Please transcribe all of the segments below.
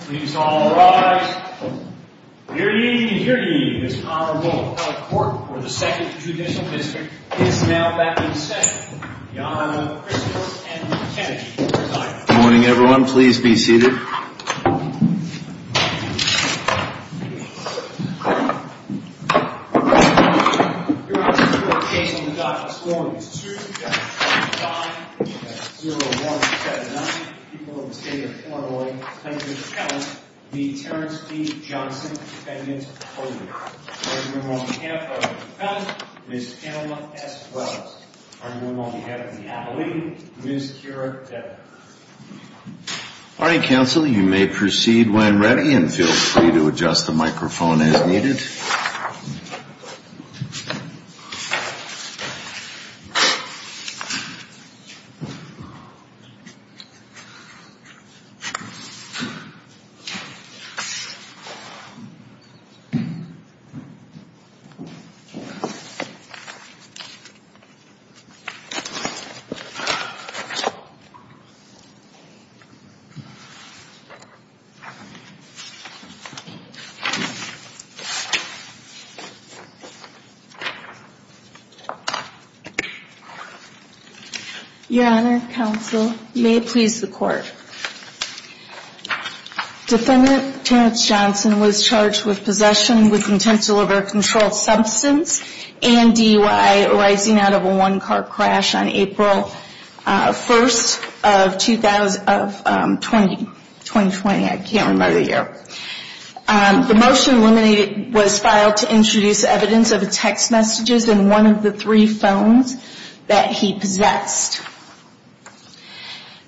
Please all rise. Hear ye, and hear ye. This Honorable Court for the Second Judicial District is now back in session. Your Honor, Crystal and Kennedy will preside. Good morning, everyone. Please be seated. Your Honor, the court case on the Dodgers' scoring is 2-5-0179. We have nine people in the state of Illinois claiming to have the Terrence D. Johnson defendant's proposal. Your Honor, on behalf of the defendant, Ms. Pamela S. Wells. Your Honor, on behalf of the attorney, Ms. Kira Decker. Morning, counsel. You may proceed when ready, and feel free to adjust the microphone as needed. Your Honor, counsel. Your Honor, may it please the court. Defendant Terrence Johnson was charged with possession with intent to deliver a controlled substance and DUI arising out of a one-car crash on April 1, 2020. I can't remember the year. The motion eliminated was filed to introduce evidence of text messages in one of the three phones that he possessed.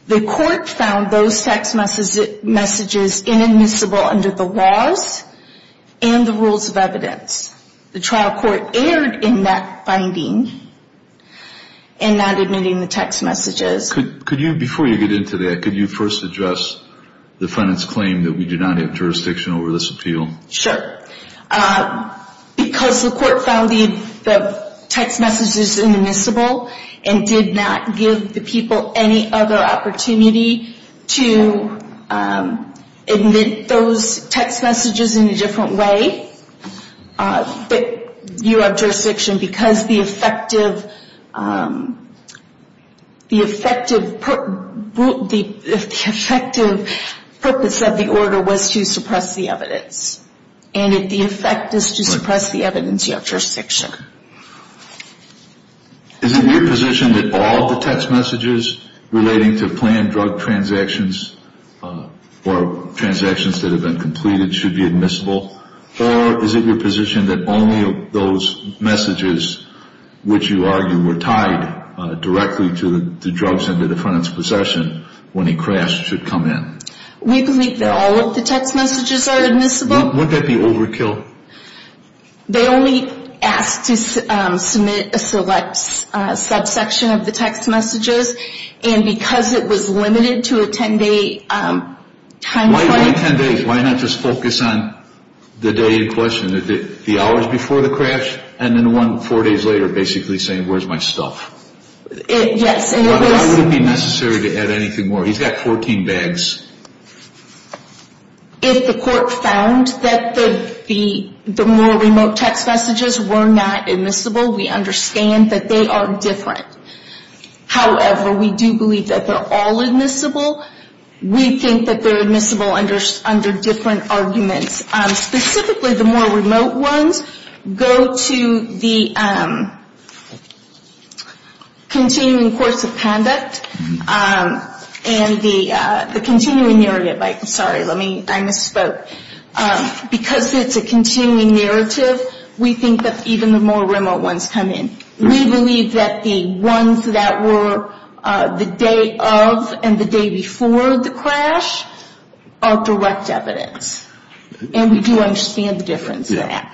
The court found those text messages inadmissible under the laws and the rules of evidence. The trial court erred in that finding and not admitting the text messages. Before you get into that, could you first address the defendant's claim that we do not have jurisdiction over this appeal? Sure. Because the court found the text messages inadmissible and did not give the people any other opportunity to admit those text messages in a different way, Is it your position that all the text messages relating to planned drug transactions or transactions that have been completed should be admissible? Or is it your position that only those messages which you argue were tied directly to the drugs in the defendant's possession when he crashed should come in? We believe that all of the text messages are admissible. Would that be overkill? They only asked to submit a select subsection of the text messages, and because it was limited to a 10-day time frame Why not just focus on the day in question? The hours before the crash and then the one four days later basically saying where's my stuff? Yes. Why would it be necessary to add anything more? He's got 14 bags. If the court found that the more remote text messages were not admissible, we understand that they are different. However, we do believe that they're all admissible. We think that they're admissible under different arguments. Specifically, the more remote ones go to the continuing course of conduct and the continuing narrative. Sorry, I misspoke. Because it's a continuing narrative, we think that even the more remote ones come in. We believe that the ones that were the day of and the day before the crash are direct evidence. And we do understand the difference in that.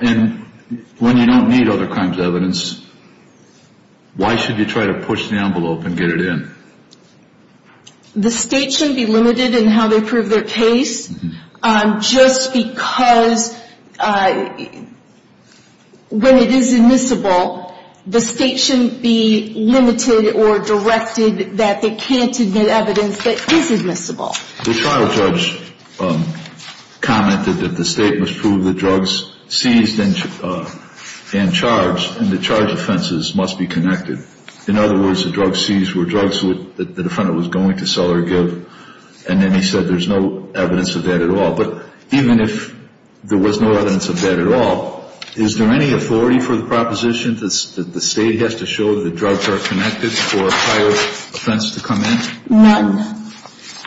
When you don't need other kinds of evidence, why should you try to push the envelope and get it in? The state shouldn't be limited in how they prove their case. Just because when it is admissible, the state shouldn't be limited or directed that they can't admit evidence that is admissible. The trial judge commented that the state must prove the drugs seized and charged and the charge offenses must be connected. In other words, the drugs seized were drugs that the defendant was going to sell or give. And then he said there's no evidence of that at all. But even if there was no evidence of that at all, is there any authority for the proposition that the state has to show that the drugs are connected for a prior offense to come in? None.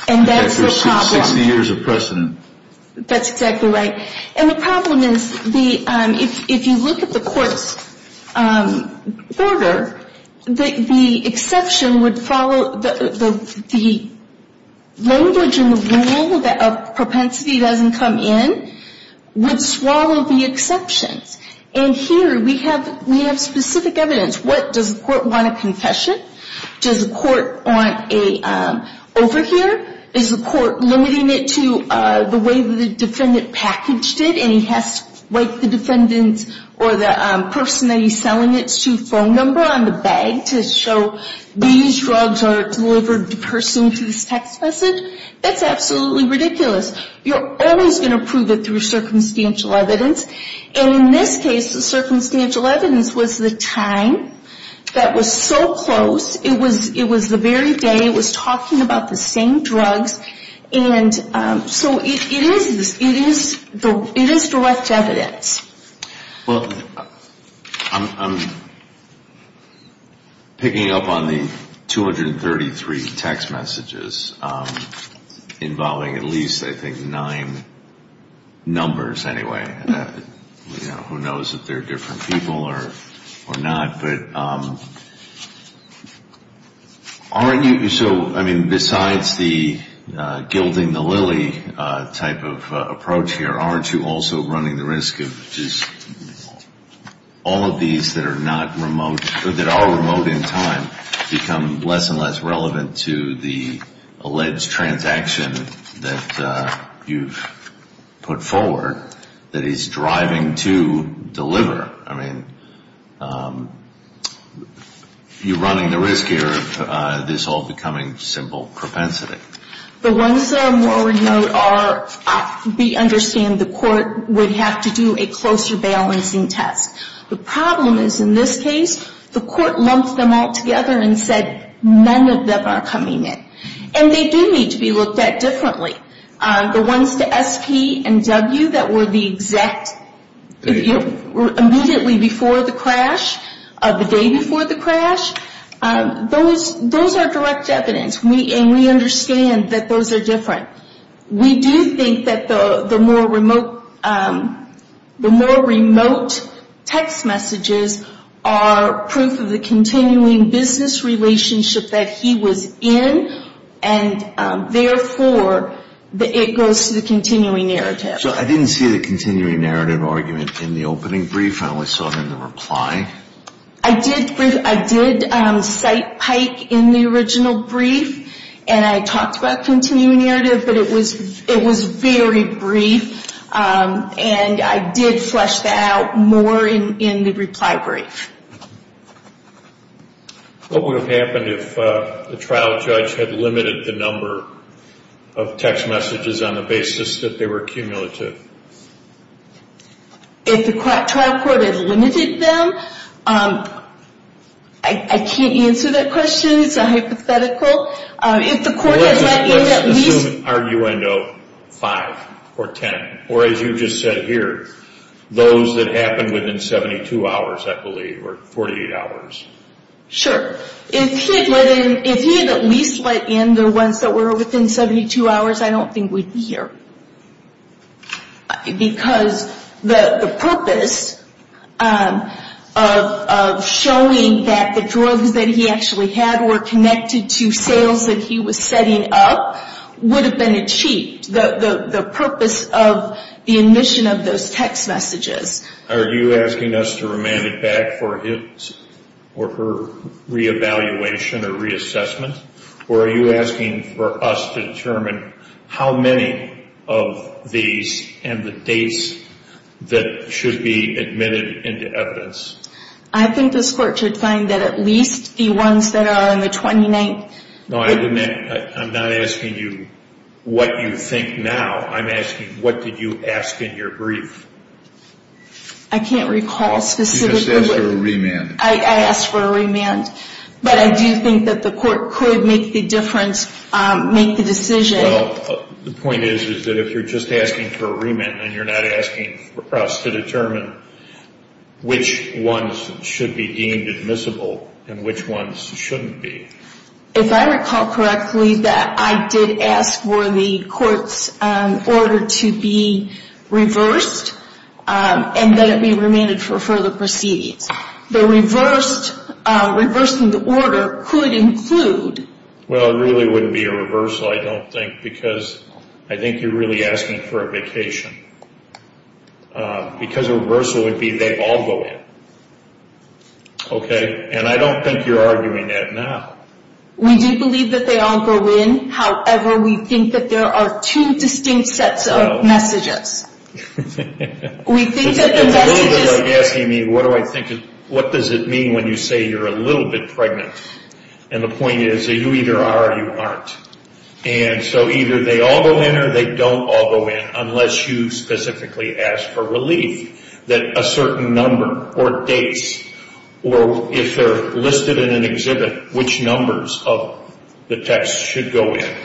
And that's the problem. After 60 years of precedent. That's exactly right. And the problem is if you look at the court's order, the exception would follow the language and the rule that propensity doesn't come in would swallow the exceptions. And here we have specific evidence. What does the court want a confession? Does the court want an overhear? Is the court limiting it to the way the defendant packaged it and he has to write the defendant or the person that he's selling it to phone number on the bag to show these drugs are delivered to the person through this text message? That's absolutely ridiculous. You're always going to prove it through circumstantial evidence. And in this case, the circumstantial evidence was the time that was so close. It was the very day. It was talking about the same drugs. And so it is direct evidence. Well, I'm picking up on the 233 text messages involving at least, I think, nine numbers anyway. Who knows if they're different people or not? But aren't you so I mean, besides the gilding the lily type of approach here, aren't you also running the risk of just all of these that are not remote or that are remote in time become less and less relevant to the alleged transaction that you've put forward that is driving to deliver? I mean, you're running the risk here of this all becoming simple propensity. The ones that are more remote are we understand the court would have to do a closer balancing test. The problem is in this case, the court lumped them all together and said none of them are coming in. And they do need to be looked at differently. The ones to SP and W that were the exact immediately before the crash, the day before the crash, those are direct evidence. And we understand that those are different. We do think that the more remote text messages are proof of the continuing business relationship that he was in. And therefore, it goes to the continuing narrative. So I didn't see the continuing narrative argument in the opening brief. I only saw it in the reply. I did cite Pike in the original brief. And I talked about continuing narrative. But it was very brief. And I did flesh that out more in the reply brief. What would have happened if the trial judge had limited the number of text messages on the basis that they were cumulative? If the trial court had limited them? I can't answer that question. It's a hypothetical. If the court had let in at least... Let's assume, arguendo, 5 or 10. Or as you just said here, those that happened within 72 hours, I believe, or 48 hours. Sure. If he had at least let in the ones that were within 72 hours, I don't think we'd be here. Because the purpose of showing that the drugs that he actually had were connected to sales that he was setting up would have been achieved. The purpose of the admission of those text messages. Are you asking us to remand it back for his or her reevaluation or reassessment? Or are you asking for us to determine how many of these and the dates that should be admitted into evidence? I think this court should find that at least the ones that are in the 29th. No, I'm not asking you what you think now. I'm asking what did you ask in your brief? I can't recall specifically. You just asked for a remand. I asked for a remand. But I do think that the court could make the difference, make the decision. Well, the point is, is that if you're just asking for a remand and you're not asking for us to determine which ones should be deemed admissible and which ones shouldn't be. If I recall correctly, that I did ask for the court's order to be reversed and that it be remanded for further proceedings. The reversing the order could include... Well, it really wouldn't be a reversal, I don't think, because I think you're really asking for a vacation. Because a reversal would be they all go in. Okay? And I don't think you're arguing that now. We do believe that they all go in. However, we think that there are two distinct sets of messages. We think that the messages... It's a little bit like asking me what do I think is... What does it mean when you say you're a little bit pregnant? And the point is, you either are or you aren't. And so either they all go in or they don't all go in unless you specifically ask for relief. That a certain number or dates or if they're listed in an exhibit, which numbers of the text should go in.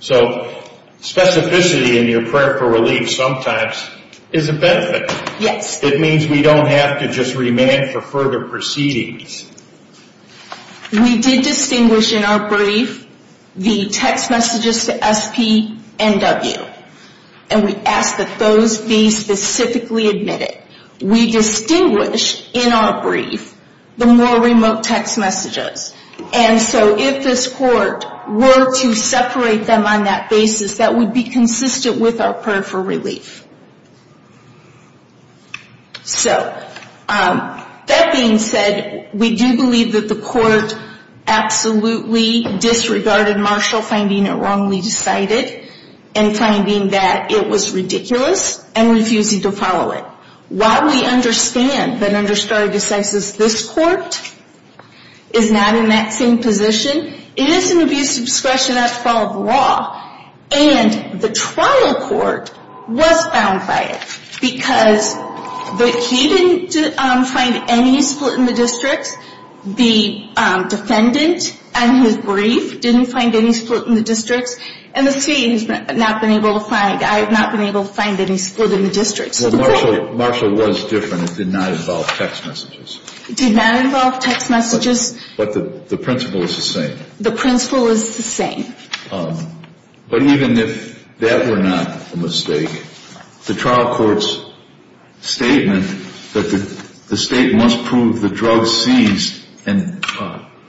So specificity in your prayer for relief sometimes is a benefit. It means we don't have to just remand for further proceedings. We did distinguish in our brief the text messages to SP and W. And we asked that those be specifically admitted. We distinguished in our brief the more remote text messages. And so if this court were to separate them on that basis, that would be consistent with our prayer for relief. So that being said, we do believe that the court absolutely disregarded Marshall finding it wrongly decided and finding that it was ridiculous and refusing to follow it. While we understand that under stare decisis, this court is not in that same position. It is an abuse of discretion that's fall of the law. And the trial court was found by it. Because he didn't find any split in the districts. The defendant and his brief didn't find any split in the districts. And the SP has not been able to find... I have not been able to find any split in the districts. Marshall was different. It did not involve text messages. It did not involve text messages. But the principle is the same. The principle is the same. But even if that were not a mistake, the trial court's statement that the state must prove the drug seized and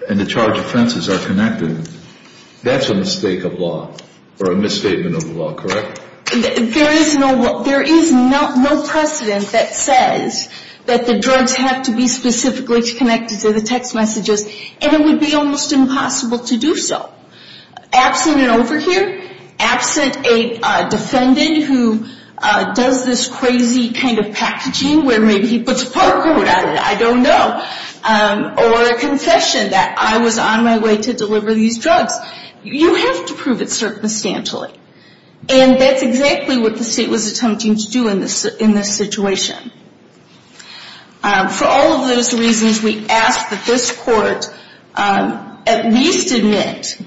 the charged offenses are connected, that's a mistake of law or a misstatement of law, correct? There is no precedent that says that the drugs have to be specifically connected to the text messages. And it would be almost impossible to do so. Absent an overhear, absent a defendant who does this crazy kind of packaging where maybe he puts a part code on it, I don't know. Or a confession that I was on my way to deliver these drugs. You have to prove it circumstantially. And that's exactly what the state was attempting to do in this situation. For all of those reasons, we ask that this court at least admit,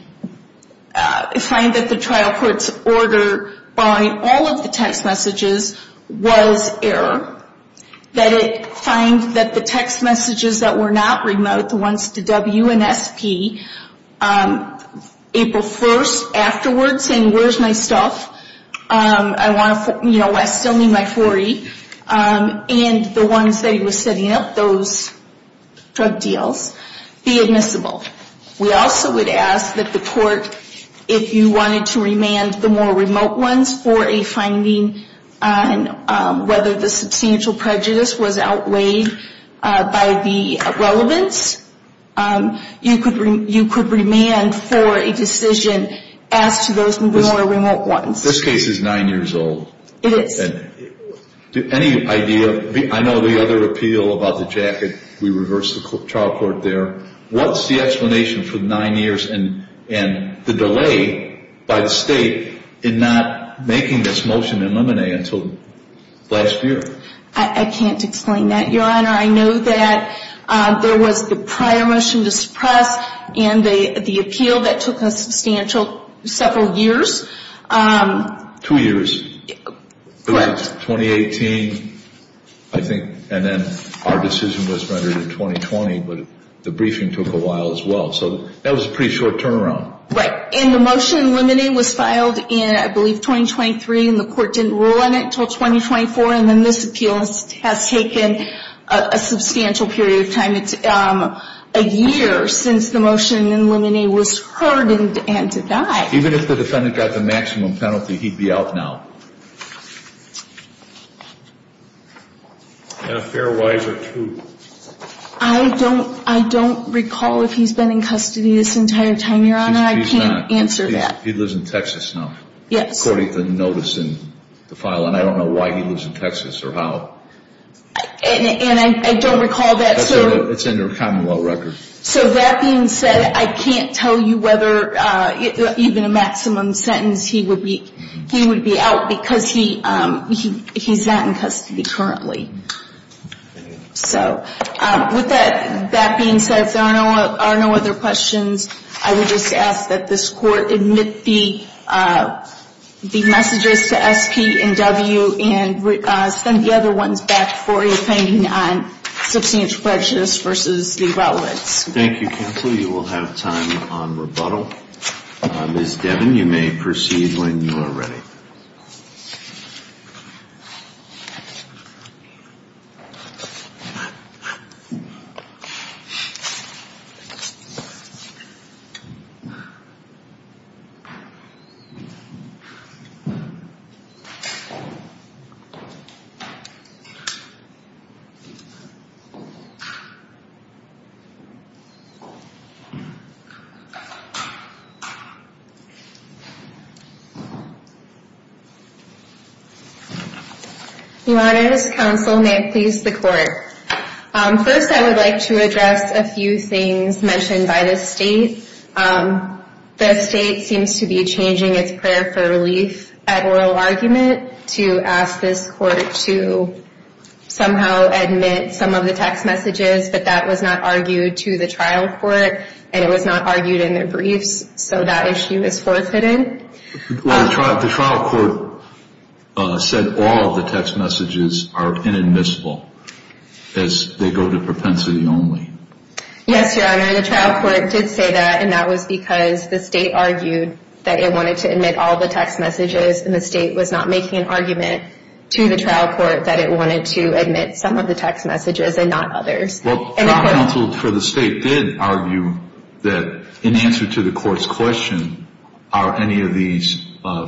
find that the trial court's order buying all of the text messages was error. That it find that the text messages that were not remote, the ones to W and SP, April 1st afterwards saying, where's my stuff? I still need my 40. And the ones that he was setting up, those drug deals, be admissible. We also would ask that the court, if you wanted to remand the more remote ones for a finding on whether the substantial prejudice was outweighed by the relevance, you could remand for a decision as to those more remote ones. This case is nine years old. It is. Any idea? I know the other appeal about the jacket, we reversed the trial court there. What's the explanation for nine years and the delay by the state in not making this motion eliminate until last year? I can't explain that, Your Honor. I know that there was the prior motion to suppress and the appeal that took a substantial several years. Two years. 2018, I think, and then our decision was rendered in 2020. But the briefing took a while as well. So that was a pretty short turnaround. Right. And the motion eliminating was filed in, I believe, 2023. And the court didn't rule on it until 2024. And then this appeal has taken a substantial period of time. It's a year since the motion to eliminate was heard and to die. Even if the defendant got the maximum penalty, he'd be out now. Fair, wise, or true? I don't recall if he's been in custody this entire time, Your Honor. I can't answer that. He lives in Texas now. Yes. According to the notice in the file, and I don't know why he lives in Texas or how. And I don't recall that. It's in your commonwealth record. So that being said, I can't tell you whether even a maximum sentence he would be out because he's not in custody currently. So with that being said, if there are no other questions, I would just ask that this court admit the messages to S.P. and W. and send the other ones back for your opinion on substantial prejudice versus the relevance. Thank you, counsel. You will have time on rebuttal. Ms. Devin, you may proceed when you are ready. Thank you. First, I would like to address a few things mentioned by the State. The State seems to be changing its prayer for relief at oral argument to ask this court to somehow admit some of the text messages, but that was not argued to the trial court, and it was not argued in their briefs, so that issue is forfeited. Well, the trial court said all of the text messages are inadmissible as they go to propensity only. Yes, Your Honor. The trial court did say that, and that was because the State argued that it wanted to admit all the text messages, and the State was not making an argument to the trial court that it wanted to admit some of the text messages and not others. Well, the trial counsel for the State did argue that in answer to the court's question, are any of these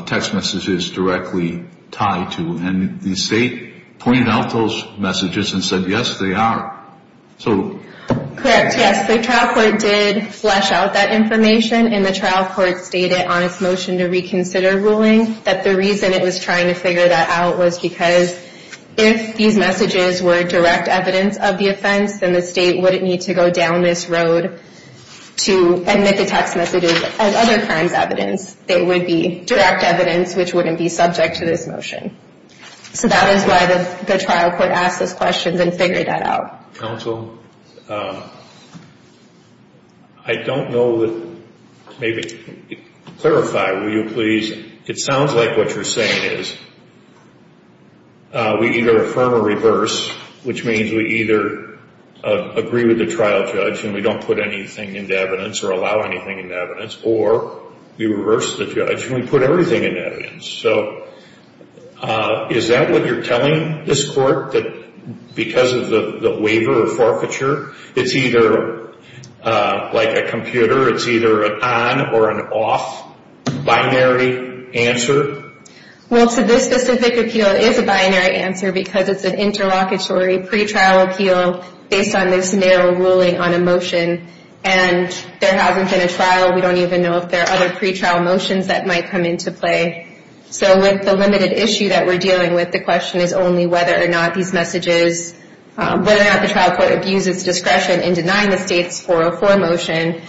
text messages directly tied to, and the State pointed out those messages and said, yes, they are. Correct. Yes, the trial court did flesh out that information, and the trial court stated on its motion to reconsider ruling that the reason it was trying to figure that out was because if these messages were direct evidence of the offense, then the State wouldn't need to go down this road to admit the text messages as other crimes evidence. They would be direct evidence which wouldn't be subject to this motion. So that is why the trial court asked those questions and figured that out. Counsel, I don't know that maybe, clarify, will you please, it sounds like what you're saying is we either affirm or reverse, which means we either agree with the trial judge and we don't put anything into evidence or allow anything into evidence, or we reverse the judge and we put everything into evidence. So is that what you're telling this court, that because of the waiver or forfeiture, it's either like a computer, it's either an on or an off binary answer? Well, so this specific appeal is a binary answer because it's an interlocutory pretrial appeal based on this narrow ruling on a motion. And there hasn't been a trial. We don't even know if there are other pretrial motions that might come into play. So with the limited issue that we're dealing with, the question is only whether or not these messages, whether or not the trial court abuses discretion in denying the State's 404 motion.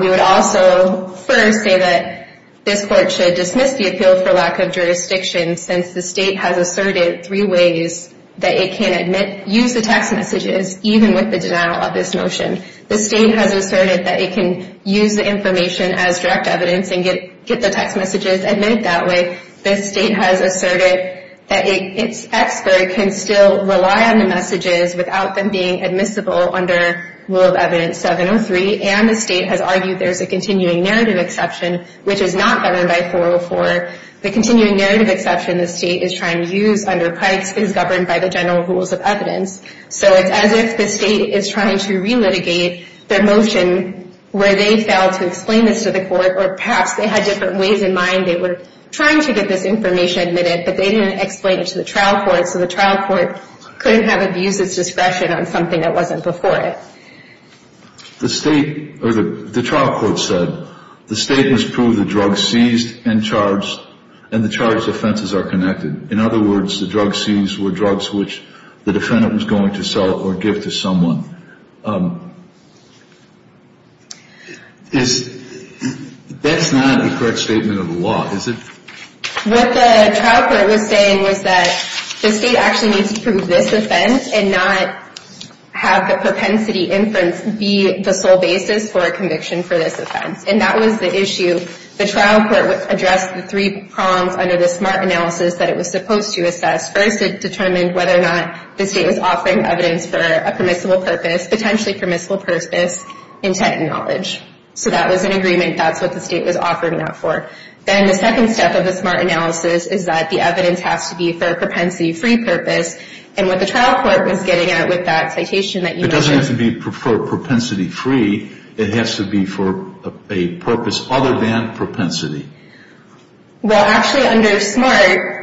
We would also first say that this court should dismiss the appeal for lack of jurisdiction, since the State has asserted three ways that it can use the text messages, even with the denial of this motion. The State has asserted that it can use the information as direct evidence and get the text messages admitted that way. The State has asserted that its expert can still rely on the messages without them being admissible under rule of evidence 703. And the State has argued there's a continuing narrative exception, which is not governed by 404. The continuing narrative exception the State is trying to use under Pike's is governed by the general rules of evidence. So it's as if the State is trying to relitigate the motion where they failed to explain this to the court, or perhaps they had different ways in mind they were trying to get this information admitted, but they didn't explain it to the trial court so the trial court couldn't have abused its discretion on something that wasn't before it. The trial court said the State must prove the drug seized and the charged offenses are connected. In other words, the drugs seized were drugs which the defendant was going to sell or give to someone. That's not a correct statement of the law, is it? What the trial court was saying was that the State actually needs to prove this offense and not have the propensity inference be the sole basis for a conviction for this offense. And that was the issue. The trial court addressed the three prongs under the SMART analysis that it was supposed to assess. First, it determined whether or not the State was offering evidence for a permissible purpose, potentially permissible purpose, intent and knowledge. So that was an agreement. That's what the State was offering that for. Then the second step of the SMART analysis is that the evidence has to be for a propensity-free purpose. And what the trial court was getting at with that citation that you mentioned... It doesn't have to be for propensity-free. It has to be for a purpose other than propensity. Well, actually, under SMART...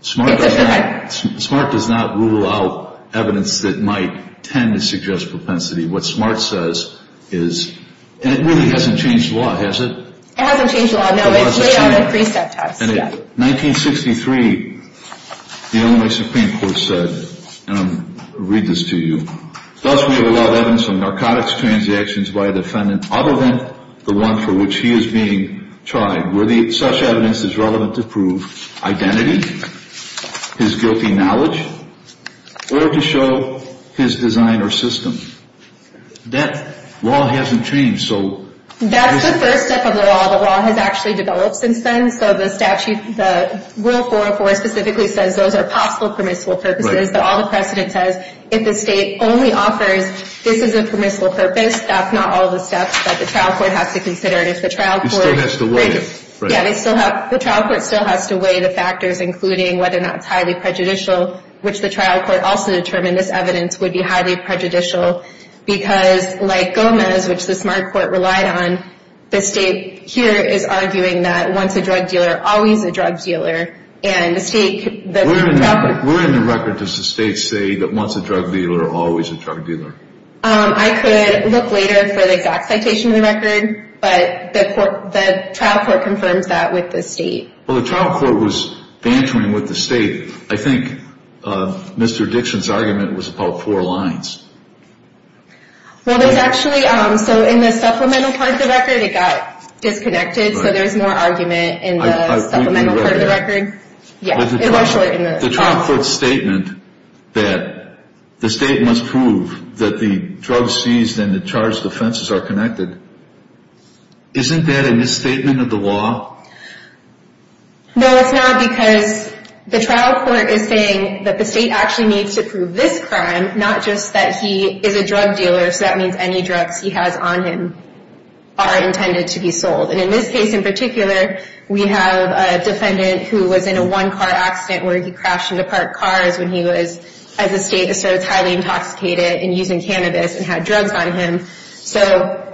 SMART does not rule out evidence that might tend to suggest propensity. What SMART says is... And it really hasn't changed law, has it? It hasn't changed law, no. It's laid out at precept test. In 1963, the Illinois Supreme Court said, and I'm going to read this to you, thus we have allowed evidence of narcotics transactions by a defendant other than the one for which he is being tried, where such evidence is relevant to prove identity, his guilty knowledge, or to show his design or system. That law hasn't changed, so... That's the first step of the law. The law has actually developed since then. So the rule 404 specifically says those are possible permissible purposes. But all the precedent says, if the state only offers this is a permissible purpose, that's not all the steps that the trial court has to consider. And if the trial court... It still has to weigh it. Yeah, the trial court still has to weigh the factors, including whether or not it's highly prejudicial, which the trial court also determined this evidence would be highly prejudicial. Because, like Gomez, which the Smart Court relied on, the state here is arguing that once a drug dealer, always a drug dealer. And the state... We're in the record. Does the state say that once a drug dealer, always a drug dealer? I could look later for the exact citation of the record, but the trial court confirms that with the state. Well, the trial court was bantering with the state. I think Mr. Dixon's argument was about four lines. Well, there's actually... So in the supplemental part of the record, it got disconnected, so there's more argument in the supplemental part of the record. Yeah, it was short in the... The trial court's statement that the state must prove that the drugs seized and the charged offenses are connected, isn't that a misstatement of the law? No, it's not, because the trial court is saying that the state actually needs to prove this crime, not just that he is a drug dealer, so that means any drugs he has on him are intended to be sold. And in this case in particular, we have a defendant who was in a one-car accident where he crashed into parked cars when he was, as the state asserts, highly intoxicated and using cannabis and had drugs on him. So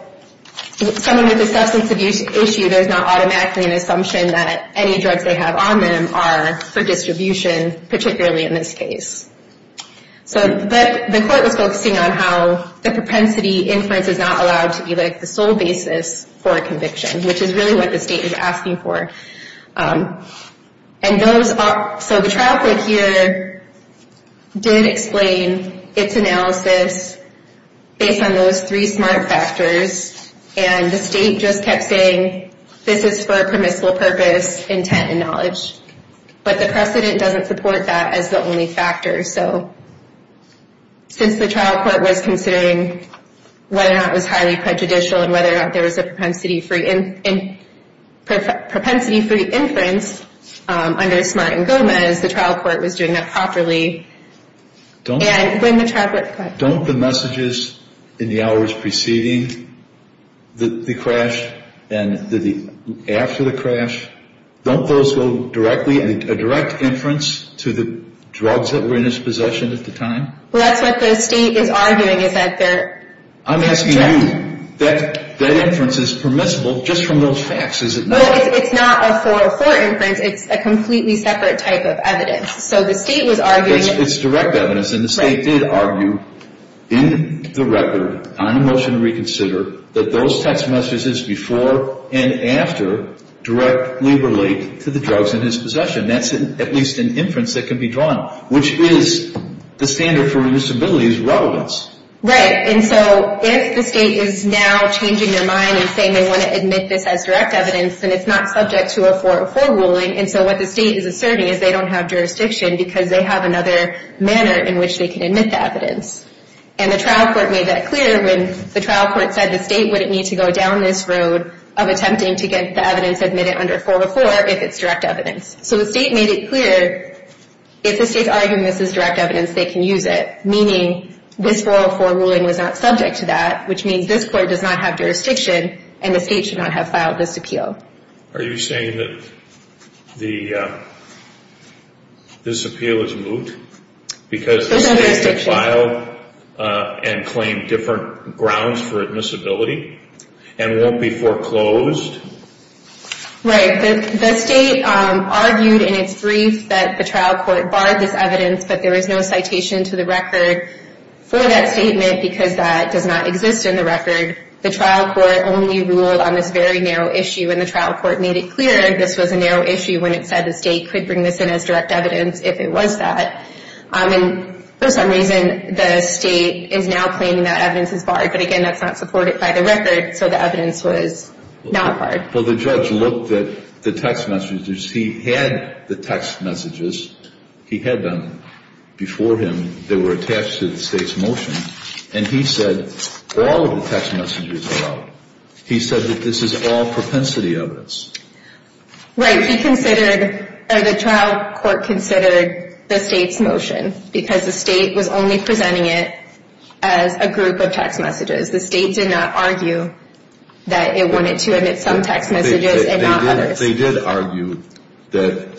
someone with a substance abuse issue, there's not automatically an assumption that any drugs they have on them are for distribution, particularly in this case. So the court was focusing on how the propensity inference is not allowed to be the sole basis for a conviction, which is really what the state is asking for. And those are... So the trial court here did explain its analysis based on those three SMART factors, and the state just kept saying this is for a permissible purpose, intent, and knowledge. But the precedent doesn't support that as the only factor, so since the trial court was considering whether or not it was highly prejudicial and whether or not there was a propensity-free inference under SMART and GOMEZ, the trial court was doing that properly. And when the trial court... Don't the messages in the hours preceding the crash and after the crash, don't those go directly, a direct inference to the drugs that were in his possession at the time? Well, that's what the state is arguing is that they're... I'm asking you. That inference is permissible just from those facts, is it not? Well, it's not a 404 inference. It's a completely separate type of evidence. So the state was arguing... It's direct evidence, and the state did argue in the record, on a motion to reconsider, that those text messages before and after directly relate to the drugs in his possession. That's at least an inference that can be drawn, which is the standard for a disability's relevance. Right. And so if the state is now changing their mind and saying they want to admit this as direct evidence, then it's not subject to a 404 ruling. And so what the state is asserting is they don't have jurisdiction because they have another manner in which they can admit the evidence. And the trial court made that clear when the trial court said the state wouldn't need to go down this road of attempting to get the evidence admitted under 404 if it's direct evidence. So the state made it clear if the state's arguing this is direct evidence, they can use it, meaning this 404 ruling was not subject to that, which means this court does not have jurisdiction and the state should not have filed this appeal. Are you saying that this appeal is moot? Because the state filed and claimed different grounds for admissibility and won't be foreclosed? Right. The state argued in its brief that the trial court barred this evidence, but there is no citation to the record for that statement because that does not exist in the record. The trial court only ruled on this very narrow issue, and the trial court made it clear this was a narrow issue when it said the state could bring this in as direct evidence if it was that. And for some reason, the state is now claiming that evidence is barred. But, again, that's not supported by the record, so the evidence was not barred. Well, the judge looked at the text messages. He had the text messages. He had them before him. They were attached to the state's motion, and he said all of the text messages were out. He said that this is all propensity evidence. Right. The trial court considered the state's motion because the state was only presenting it as a group of text messages. The state did not argue that it wanted to admit some text messages and not others. They did argue that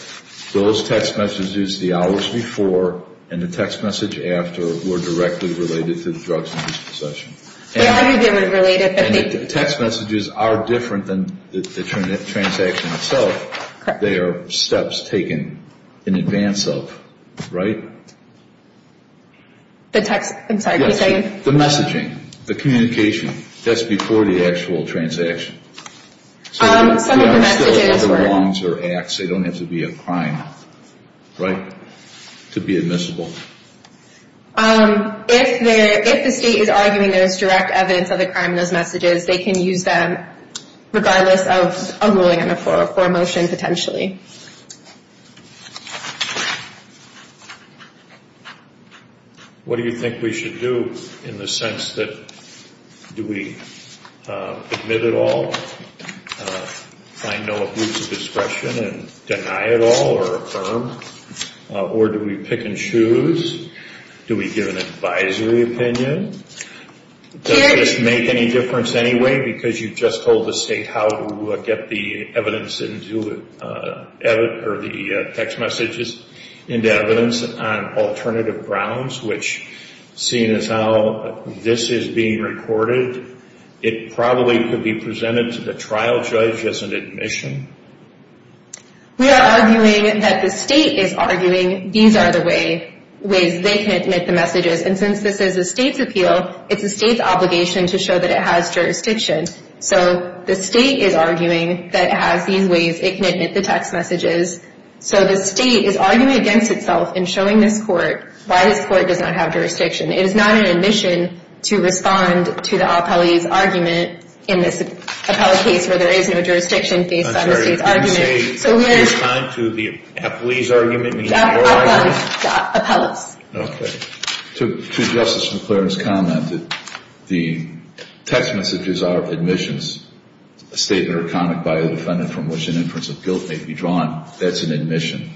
those text messages, the hours before and the text message after were directly related to the drugs in his possession. They argued they were related, but they didn't. And the text messages are different than the transaction itself. They are steps taken in advance of, right? The text, I'm sorry, can you say again? The messaging, the communication. That's before the actual transaction. Some of the messages were... If the state is arguing there is direct evidence of the crime in those messages, they can use them regardless of a ruling on the floor for a motion potentially. What do you think we should do in the sense that do we admit it all, find no abuse of discretion and deny it all or affirm? Or do we pick and choose? Do we give an advisory opinion? Does this make any difference anyway because you just told the state how to get the text messages into evidence on alternative grounds, which seeing as how this is being recorded, it probably could be presented to the trial judge as an admission. We are arguing that the state is arguing these are the ways they can admit the messages. And since this is a state's appeal, it's the state's obligation to show that it has jurisdiction. So the state is arguing that it has these ways it can admit the text messages. So the state is arguing against itself in showing this court why this court does not have jurisdiction. It is not an admission to respond to the appellee's argument in this appellate case where there is no jurisdiction based on the state's argument. I'm sorry, did you say respond to the appellee's argument? Appellate's. Okay. To Justice McClaren's comment, the text messages are admissions, a statement or comment by a defendant from which an inference of guilt may be drawn. That's an admission.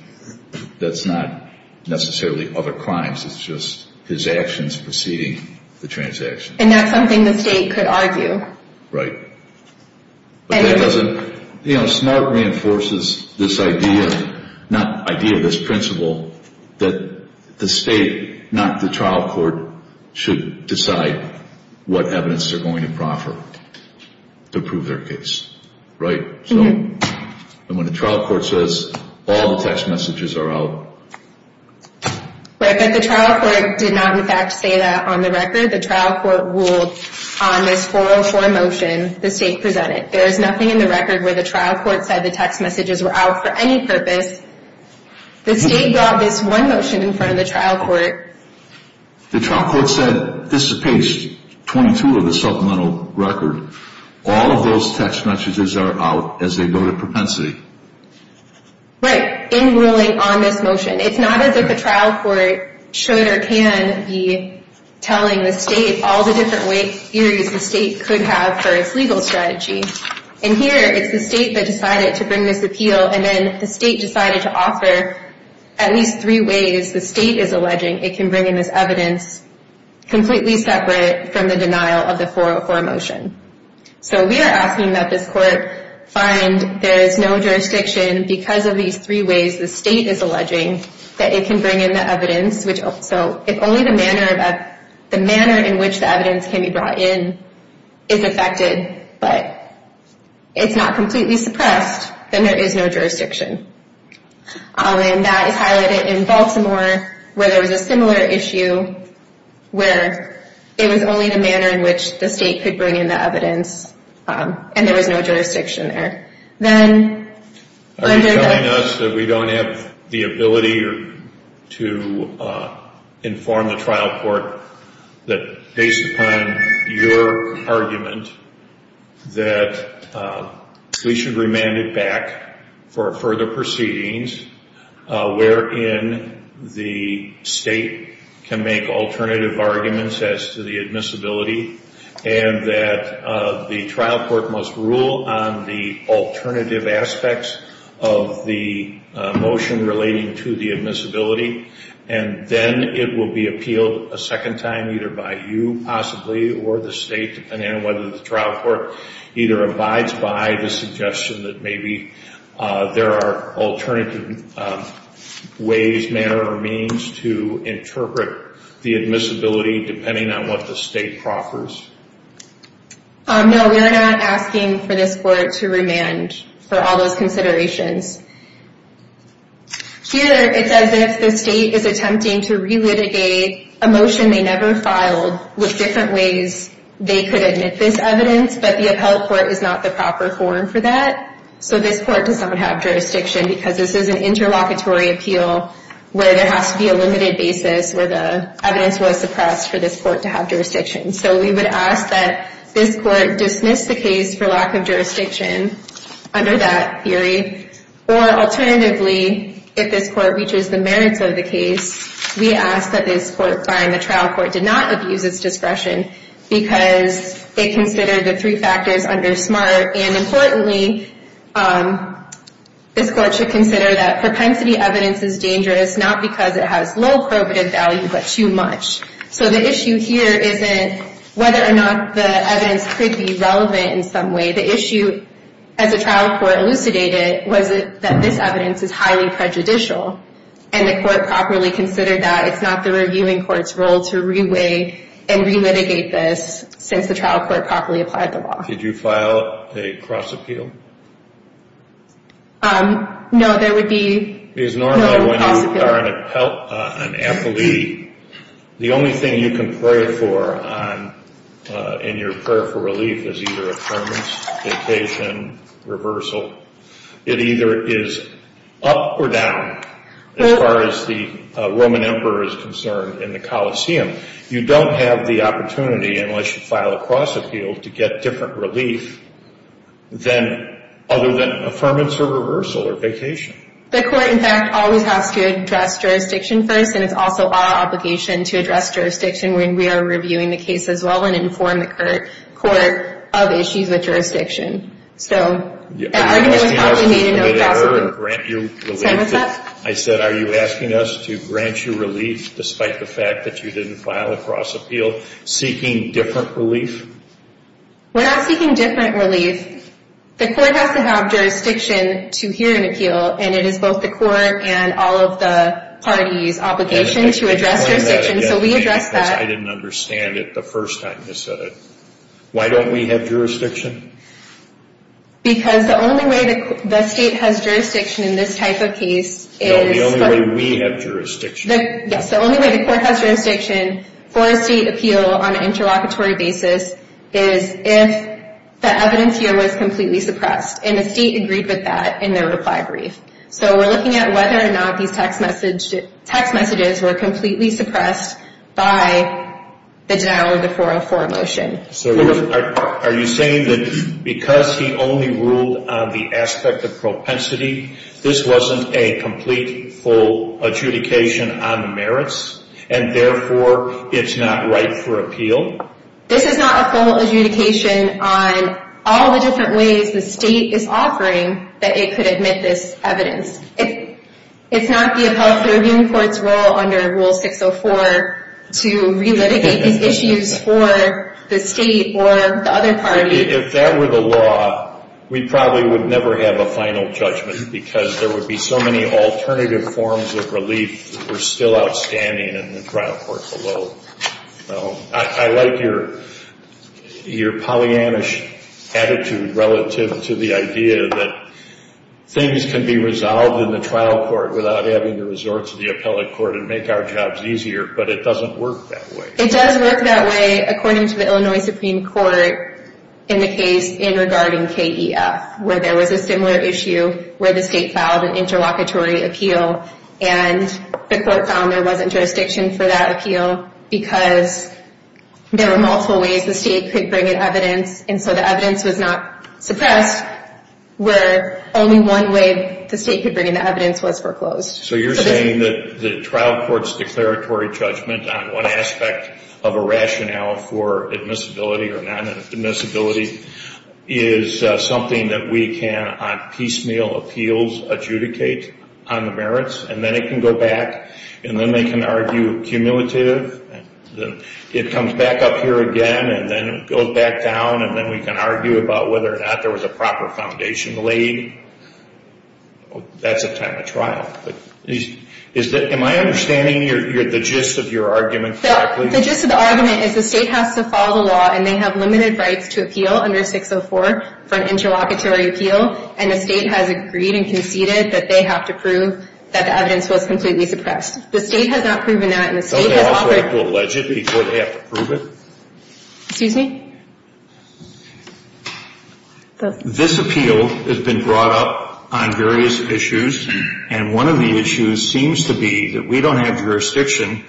That's not necessarily other crimes. It's just his actions preceding the transaction. And that's something the state could argue. Right. But that doesn't, you know, SMART reinforces this idea, not idea, this principle that the state, not the trial court, should decide what evidence they're going to proffer to prove their case. Right? And when the trial court says all the text messages are out. Right, but the trial court did not, in fact, say that on the record. The trial court ruled on this 404 motion the state presented. There is nothing in the record where the trial court said the text messages were out for any purpose. The state brought this one motion in front of the trial court. The trial court said, this is page 22 of the supplemental record. All of those text messages are out as they go to propensity. Right, in ruling on this motion. It's not as if the trial court should or can be telling the state all the different theories the state could have for its legal strategy. In here, it's the state that decided to bring this appeal, and then the state decided to offer at least three ways the state is alleging it can bring in this evidence completely separate from the denial of the 404 motion. So we are asking that this court find there is no jurisdiction because of these three ways the state is alleging that it can bring in the evidence. So if only the manner in which the evidence can be brought in is affected, but it's not completely suppressed, then there is no jurisdiction. And that is highlighted in Baltimore, where there was a similar issue where it was only the manner in which the state could bring in the evidence and there was no jurisdiction there. Are you telling us that we don't have the ability to inform the trial court that based upon your argument that we should remand it back for further proceedings, wherein the state can make alternative arguments as to the admissibility, and that the trial court must rule on the alternative aspects of the motion relating to the admissibility, and then it will be appealed a second time either by you possibly or the state, depending on whether the trial court either abides by the suggestion that maybe there are alternative ways, manner, or means to interpret the admissibility depending on what the state proffers? No, we are not asking for this court to remand for all those considerations. Here, it's as if the state is attempting to relitigate a motion they never filed with different ways they could admit this evidence, but the appellate court is not the proper forum for that. So this court does not have jurisdiction because this is an interlocutory appeal where there has to be a limited basis where the evidence was suppressed for this court to have jurisdiction. So we would ask that this court dismiss the case for lack of jurisdiction under that theory, or alternatively, if this court reaches the merits of the case, we ask that this court find the trial court did not abuse its discretion because they considered the three factors under SMART, and importantly, this court should consider that propensity evidence is dangerous not because it has low probative value, but too much. So the issue here isn't whether or not the evidence could be relevant in some way. The issue, as the trial court elucidated, was that this evidence is highly prejudicial, and the court properly considered that. It's not the reviewing court's role to re-weigh and re-litigate this since the trial court properly applied the law. Did you file a cross-appeal? No, there would be no cross-appeal. Because normally when you are an appellee, the only thing you can pray for in your prayer for relief is either affirmance, vacation, reversal. It either is up or down as far as the Roman emperor is concerned in the Colosseum. You don't have the opportunity, unless you file a cross-appeal, to get different relief than other than affirmance or reversal or vacation. The court, in fact, always has to address jurisdiction first, and it's also our obligation to address jurisdiction when we are reviewing the case as well and inform the court of issues with jurisdiction. So, that argument was probably made in early 2000. I said, are you asking us to grant you relief despite the fact that you didn't file a cross-appeal? Seeking different relief? We're not seeking different relief. The court has to have jurisdiction to hear an appeal, and it is both the court and all of the parties' obligation to address jurisdiction, so we address that. I didn't understand it the first time you said it. Why don't we have jurisdiction? Because the only way the state has jurisdiction in this type of case is... No, the only way we have jurisdiction. Yes, the only way the court has jurisdiction for a state appeal on an interlocutory basis is if the evidence here was completely suppressed, and the state agreed with that in their reply brief. So, we're looking at whether or not these text messages were completely suppressed by the denial of the 404 motion. So, are you saying that because he only ruled on the aspect of propensity, this wasn't a complete, full adjudication on the merits, and therefore it's not right for appeal? This is not a full adjudication on all the different ways the state is offering that it could admit this evidence. It's not the appellate review court's role under Rule 604 to relitigate these issues for the state or the other party. If that were the law, we probably would never have a final judgment because there would be so many alternative forms of relief that were still outstanding in the trial court below. I like your Pollyannish attitude relative to the idea that things can be resolved in the trial court without having to resort to the appellate court and make our jobs easier, but it doesn't work that way. It does work that way according to the Illinois Supreme Court in the case in regarding KEF, where there was a similar issue where the state filed an interlocutory appeal, and the court found there wasn't jurisdiction for that appeal because there were multiple ways the state could bring in evidence, and so the evidence was not suppressed, where only one way the state could bring in the evidence was foreclosed. So you're saying that the trial court's declaratory judgment on one aspect of a rationale for admissibility or non-admissibility is something that we can on piecemeal appeals adjudicate on the merits, and then it can go back, and then they can argue cumulative, and then it comes back up here again, and then it goes back down, and then we can argue about whether or not there was a proper foundation laid. That's a time of trial. Am I understanding the gist of your argument correctly? The gist of the argument is the state has to follow the law, and they have limited rights to appeal under 604 for an interlocutory appeal, and the state has agreed and conceded that they have to prove that the evidence was completely suppressed. The state has not proven that, and the state has offered— Don't they also have to allege it before they have to prove it? Excuse me? This appeal has been brought up on various issues, and one of the issues seems to be that we don't have jurisdiction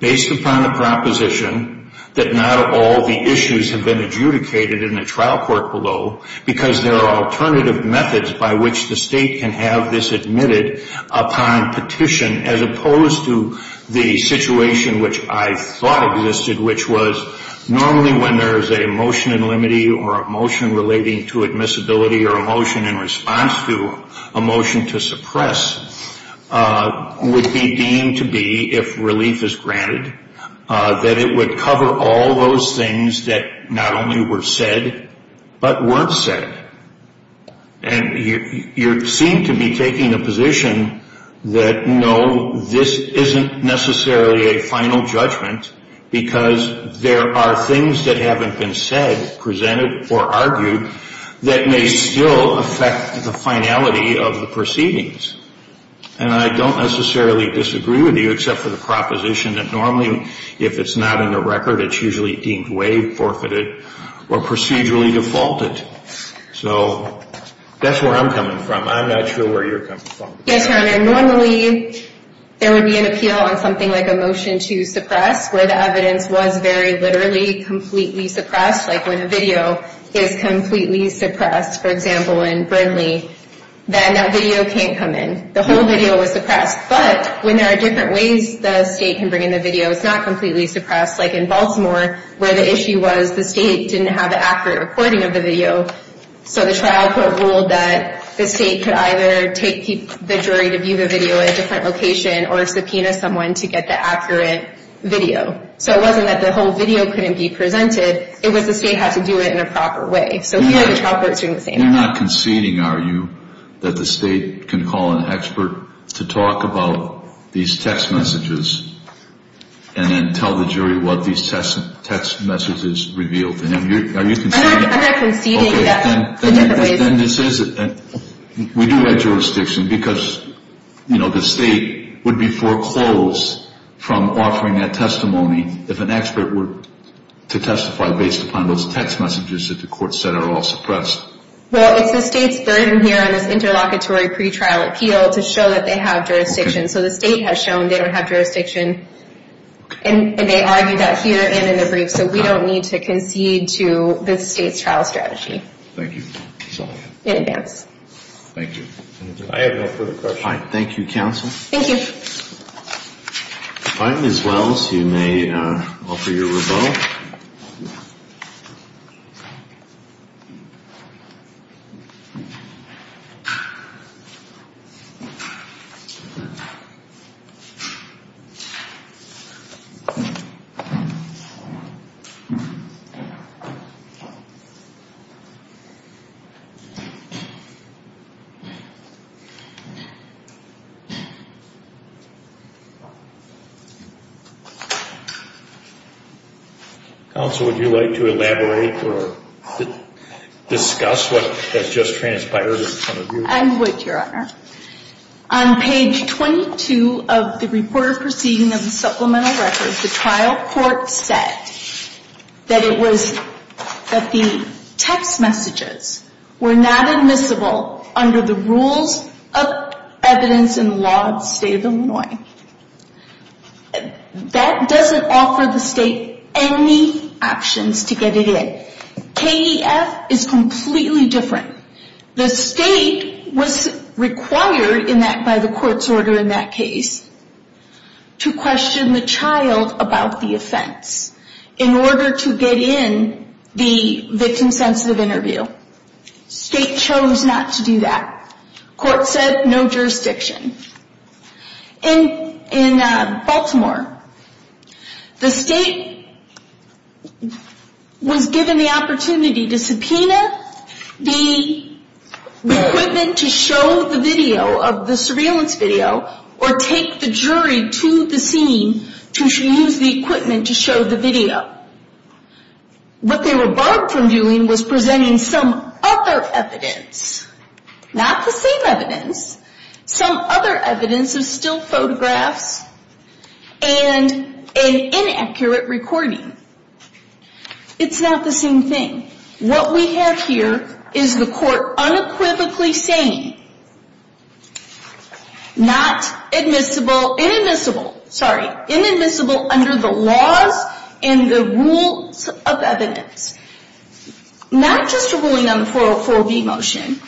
based upon the proposition that not all the issues have been adjudicated in the trial court below because there are alternative methods by which the state can have this admitted upon petition as opposed to the situation which I thought existed, which was normally when there is a motion in limity or a motion relating to admissibility or a motion in response to a motion to suppress would be deemed to be, if relief is granted, that it would cover all those things that not only were said, but weren't said, and you seem to be taking a position that, no, this isn't necessarily a final judgment because there are things that haven't been said, presented, or argued that may still affect the finality of the proceedings, and I don't necessarily disagree with you except for the proposition that normally, if it's not in the record, it's usually deemed way forfeited or procedurally defaulted. So that's where I'm coming from. I'm not sure where you're coming from. Yes, Your Honor, normally there would be an appeal on something like a motion to suppress where the evidence was very literally completely suppressed, like when a video is completely suppressed, for example, in Brindley, then that video can't come in. The whole video was suppressed. But when there are different ways the State can bring in the video, it's not completely suppressed, like in Baltimore, where the issue was the State didn't have an accurate recording of the video, so the trial court ruled that the State could either take the jury to view the video at a different location or subpoena someone to get the accurate video. So it wasn't that the whole video couldn't be presented. It was the State had to do it in a proper way. So here the trial court is doing the same thing. You're not conceding, are you, that the State can call an expert to talk about these text messages and then tell the jury what these text messages revealed? I'm not conceding that the different ways... Okay, then we do have jurisdiction because, you know, the State would be foreclosed from offering that testimony if an expert were to testify based upon those text messages that the court said are all suppressed. Well, it's the State's burden here on this interlocutory pretrial appeal to show that they have jurisdiction. So the State has shown they don't have jurisdiction, and they argue that here and in the brief, so we don't need to concede to the State's trial strategy. Thank you. In advance. Thank you. I have no further questions. Thank you, Counsel. Thank you. All right, Ms. Wells, you may offer your rebuttal. Counsel, would you like to elaborate or discuss what has just transpired in front of you? I would, Your Honor. On page 22 of the Report of Proceedings of the Supplemental Records, the trial court said that it was that the text messages were not admissible under the rules of evidence in the law of the State of Illinois. That doesn't offer the State any options to get it in. KEF is completely different. The State was required by the court's order in that case to question the child about the offense in order to get in the victim-sensitive interview. State chose not to do that. Court said no jurisdiction. In Baltimore, the State was given the opportunity to subpoena the equipment to show the video of the surveillance video or take the jury to the scene to use the equipment to show the video. What they were barred from doing was presenting some other evidence, not the same evidence, some other evidence of still photographs and an inaccurate recording. It's not the same thing. What we have here is the court unequivocally saying not admissible, inadmissible, sorry, inadmissible under the laws and the rules of evidence. Not just a ruling on the 404B motion,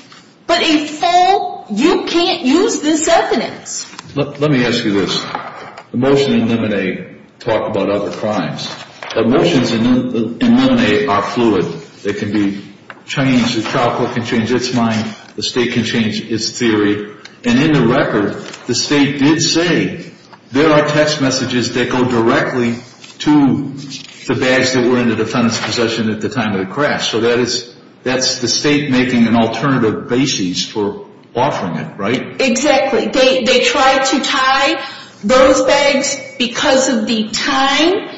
but a full, you can't use this evidence. Let me ask you this. The motion in Limine talked about other crimes. The motions in Limine are fluid. They can be changed. The child court can change its mind. The State can change its theory. And in the record, the State did say there are text messages that go directly to the bags that were in the defendant's possession at the time of the crash. So that's the State making an alternative basis for offering it, right? Exactly. They tried to tie those bags because of the time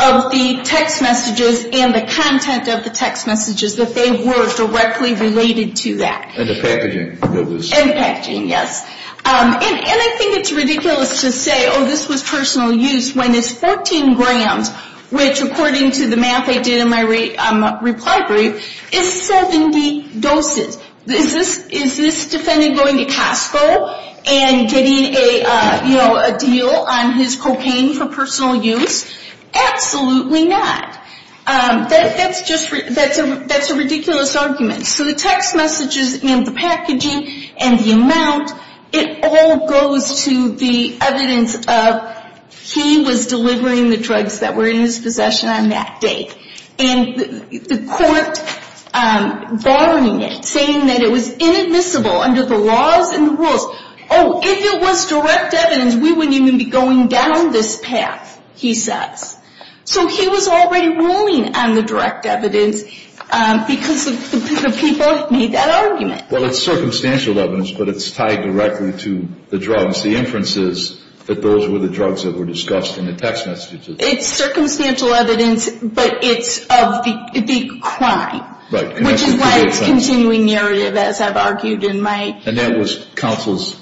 of the text messages and the content of the text messages, that they were directly related to that. And the packaging. And the packaging, yes. And I think it's ridiculous to say, oh, this was personal use when it's 14 grams, which according to the math I did in my reply brief, is 70 doses. Is this defendant going to Costco and getting a deal on his cocaine for personal use? Absolutely not. That's a ridiculous argument. So the text messages and the packaging and the amount, it all goes to the evidence of he was delivering the drugs that were in his possession on that date. And the court barring it, saying that it was inadmissible under the laws and the rules. Oh, if it was direct evidence, we wouldn't even be going down this path, he says. So he was already ruling on the direct evidence because the people made that argument. Well, it's circumstantial evidence, but it's tied directly to the drugs, the inferences that those were the drugs that were discussed in the text messages. It's circumstantial evidence, but it's of the crime. Right. Which is why it's continuing narrative, as I've argued in my... And that was counsel's,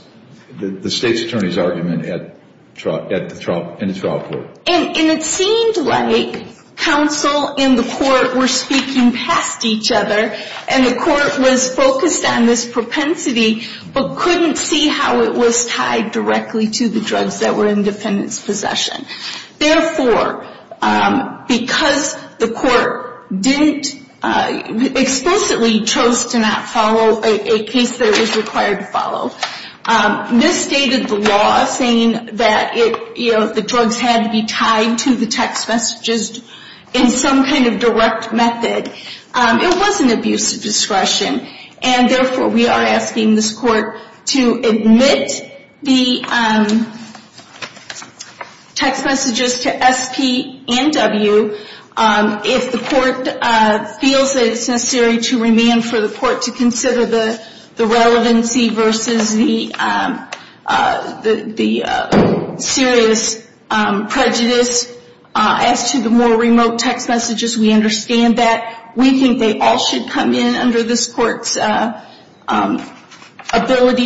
the state's attorney's argument in the trial court. And it seemed like counsel and the court were speaking past each other and the court was focused on this propensity, but couldn't see how it was tied directly to the drugs that were in defendant's possession. Therefore, because the court explicitly chose to not follow a case that it was required to follow, misstated the law saying that the drugs had to be tied to the text messages in some kind of direct method. It wasn't abuse of discretion. And therefore, we are asking this court to admit the text messages to SP and W if the court feels that it's necessary to remand for the court to consider the relevancy versus the serious prejudice. As to the more remote text messages, we understand that. We think they all should come in under this court's ability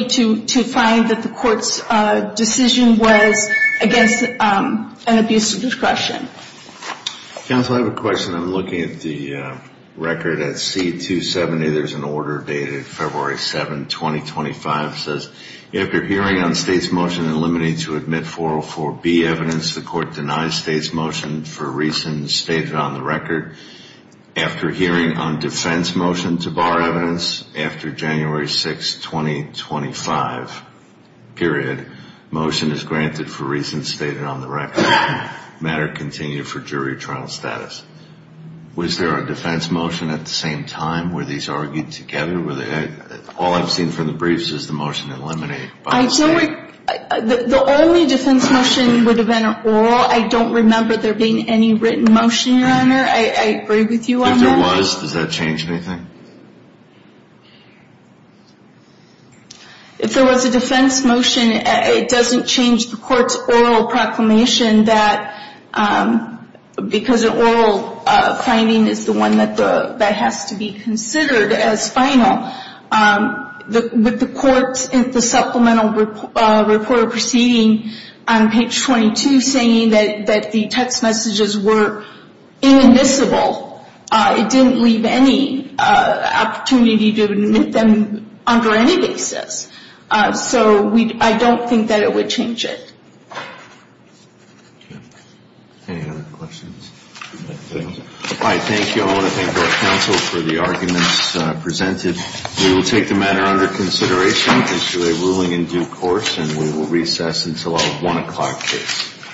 to find that the court's decision was against an abuse of discretion. Counsel, I have a question. I'm looking at the record at C270. There's an order dated February 7, 2025. It says, after hearing on state's motion to eliminate to admit 404B evidence, the court denies state's motion for reasons stated on the record. After hearing on defense motion to bar evidence after January 6, 2025 period, motion is granted for reasons stated on the record. Matter continued for jury trial status. Was there a defense motion at the same time where these argued together? All I've seen from the briefs is the motion to eliminate. The only defense motion would have been oral. I don't remember there being any written motion, Your Honor. I agree with you on that. If there was, does that change anything? If there was a defense motion, it doesn't change the court's oral proclamation that, because an oral finding is the one that has to be considered as final. With the court's supplemental report proceeding on page 22 saying that the text messages were inadmissible, it didn't leave any opportunity to admit them under any basis. So I don't think that it would change it. Any other questions? All right, thank you. I want to thank our counsel for the arguments presented. We will take the matter under consideration, issue a ruling in due course, and we will recess until a 1 o'clock case.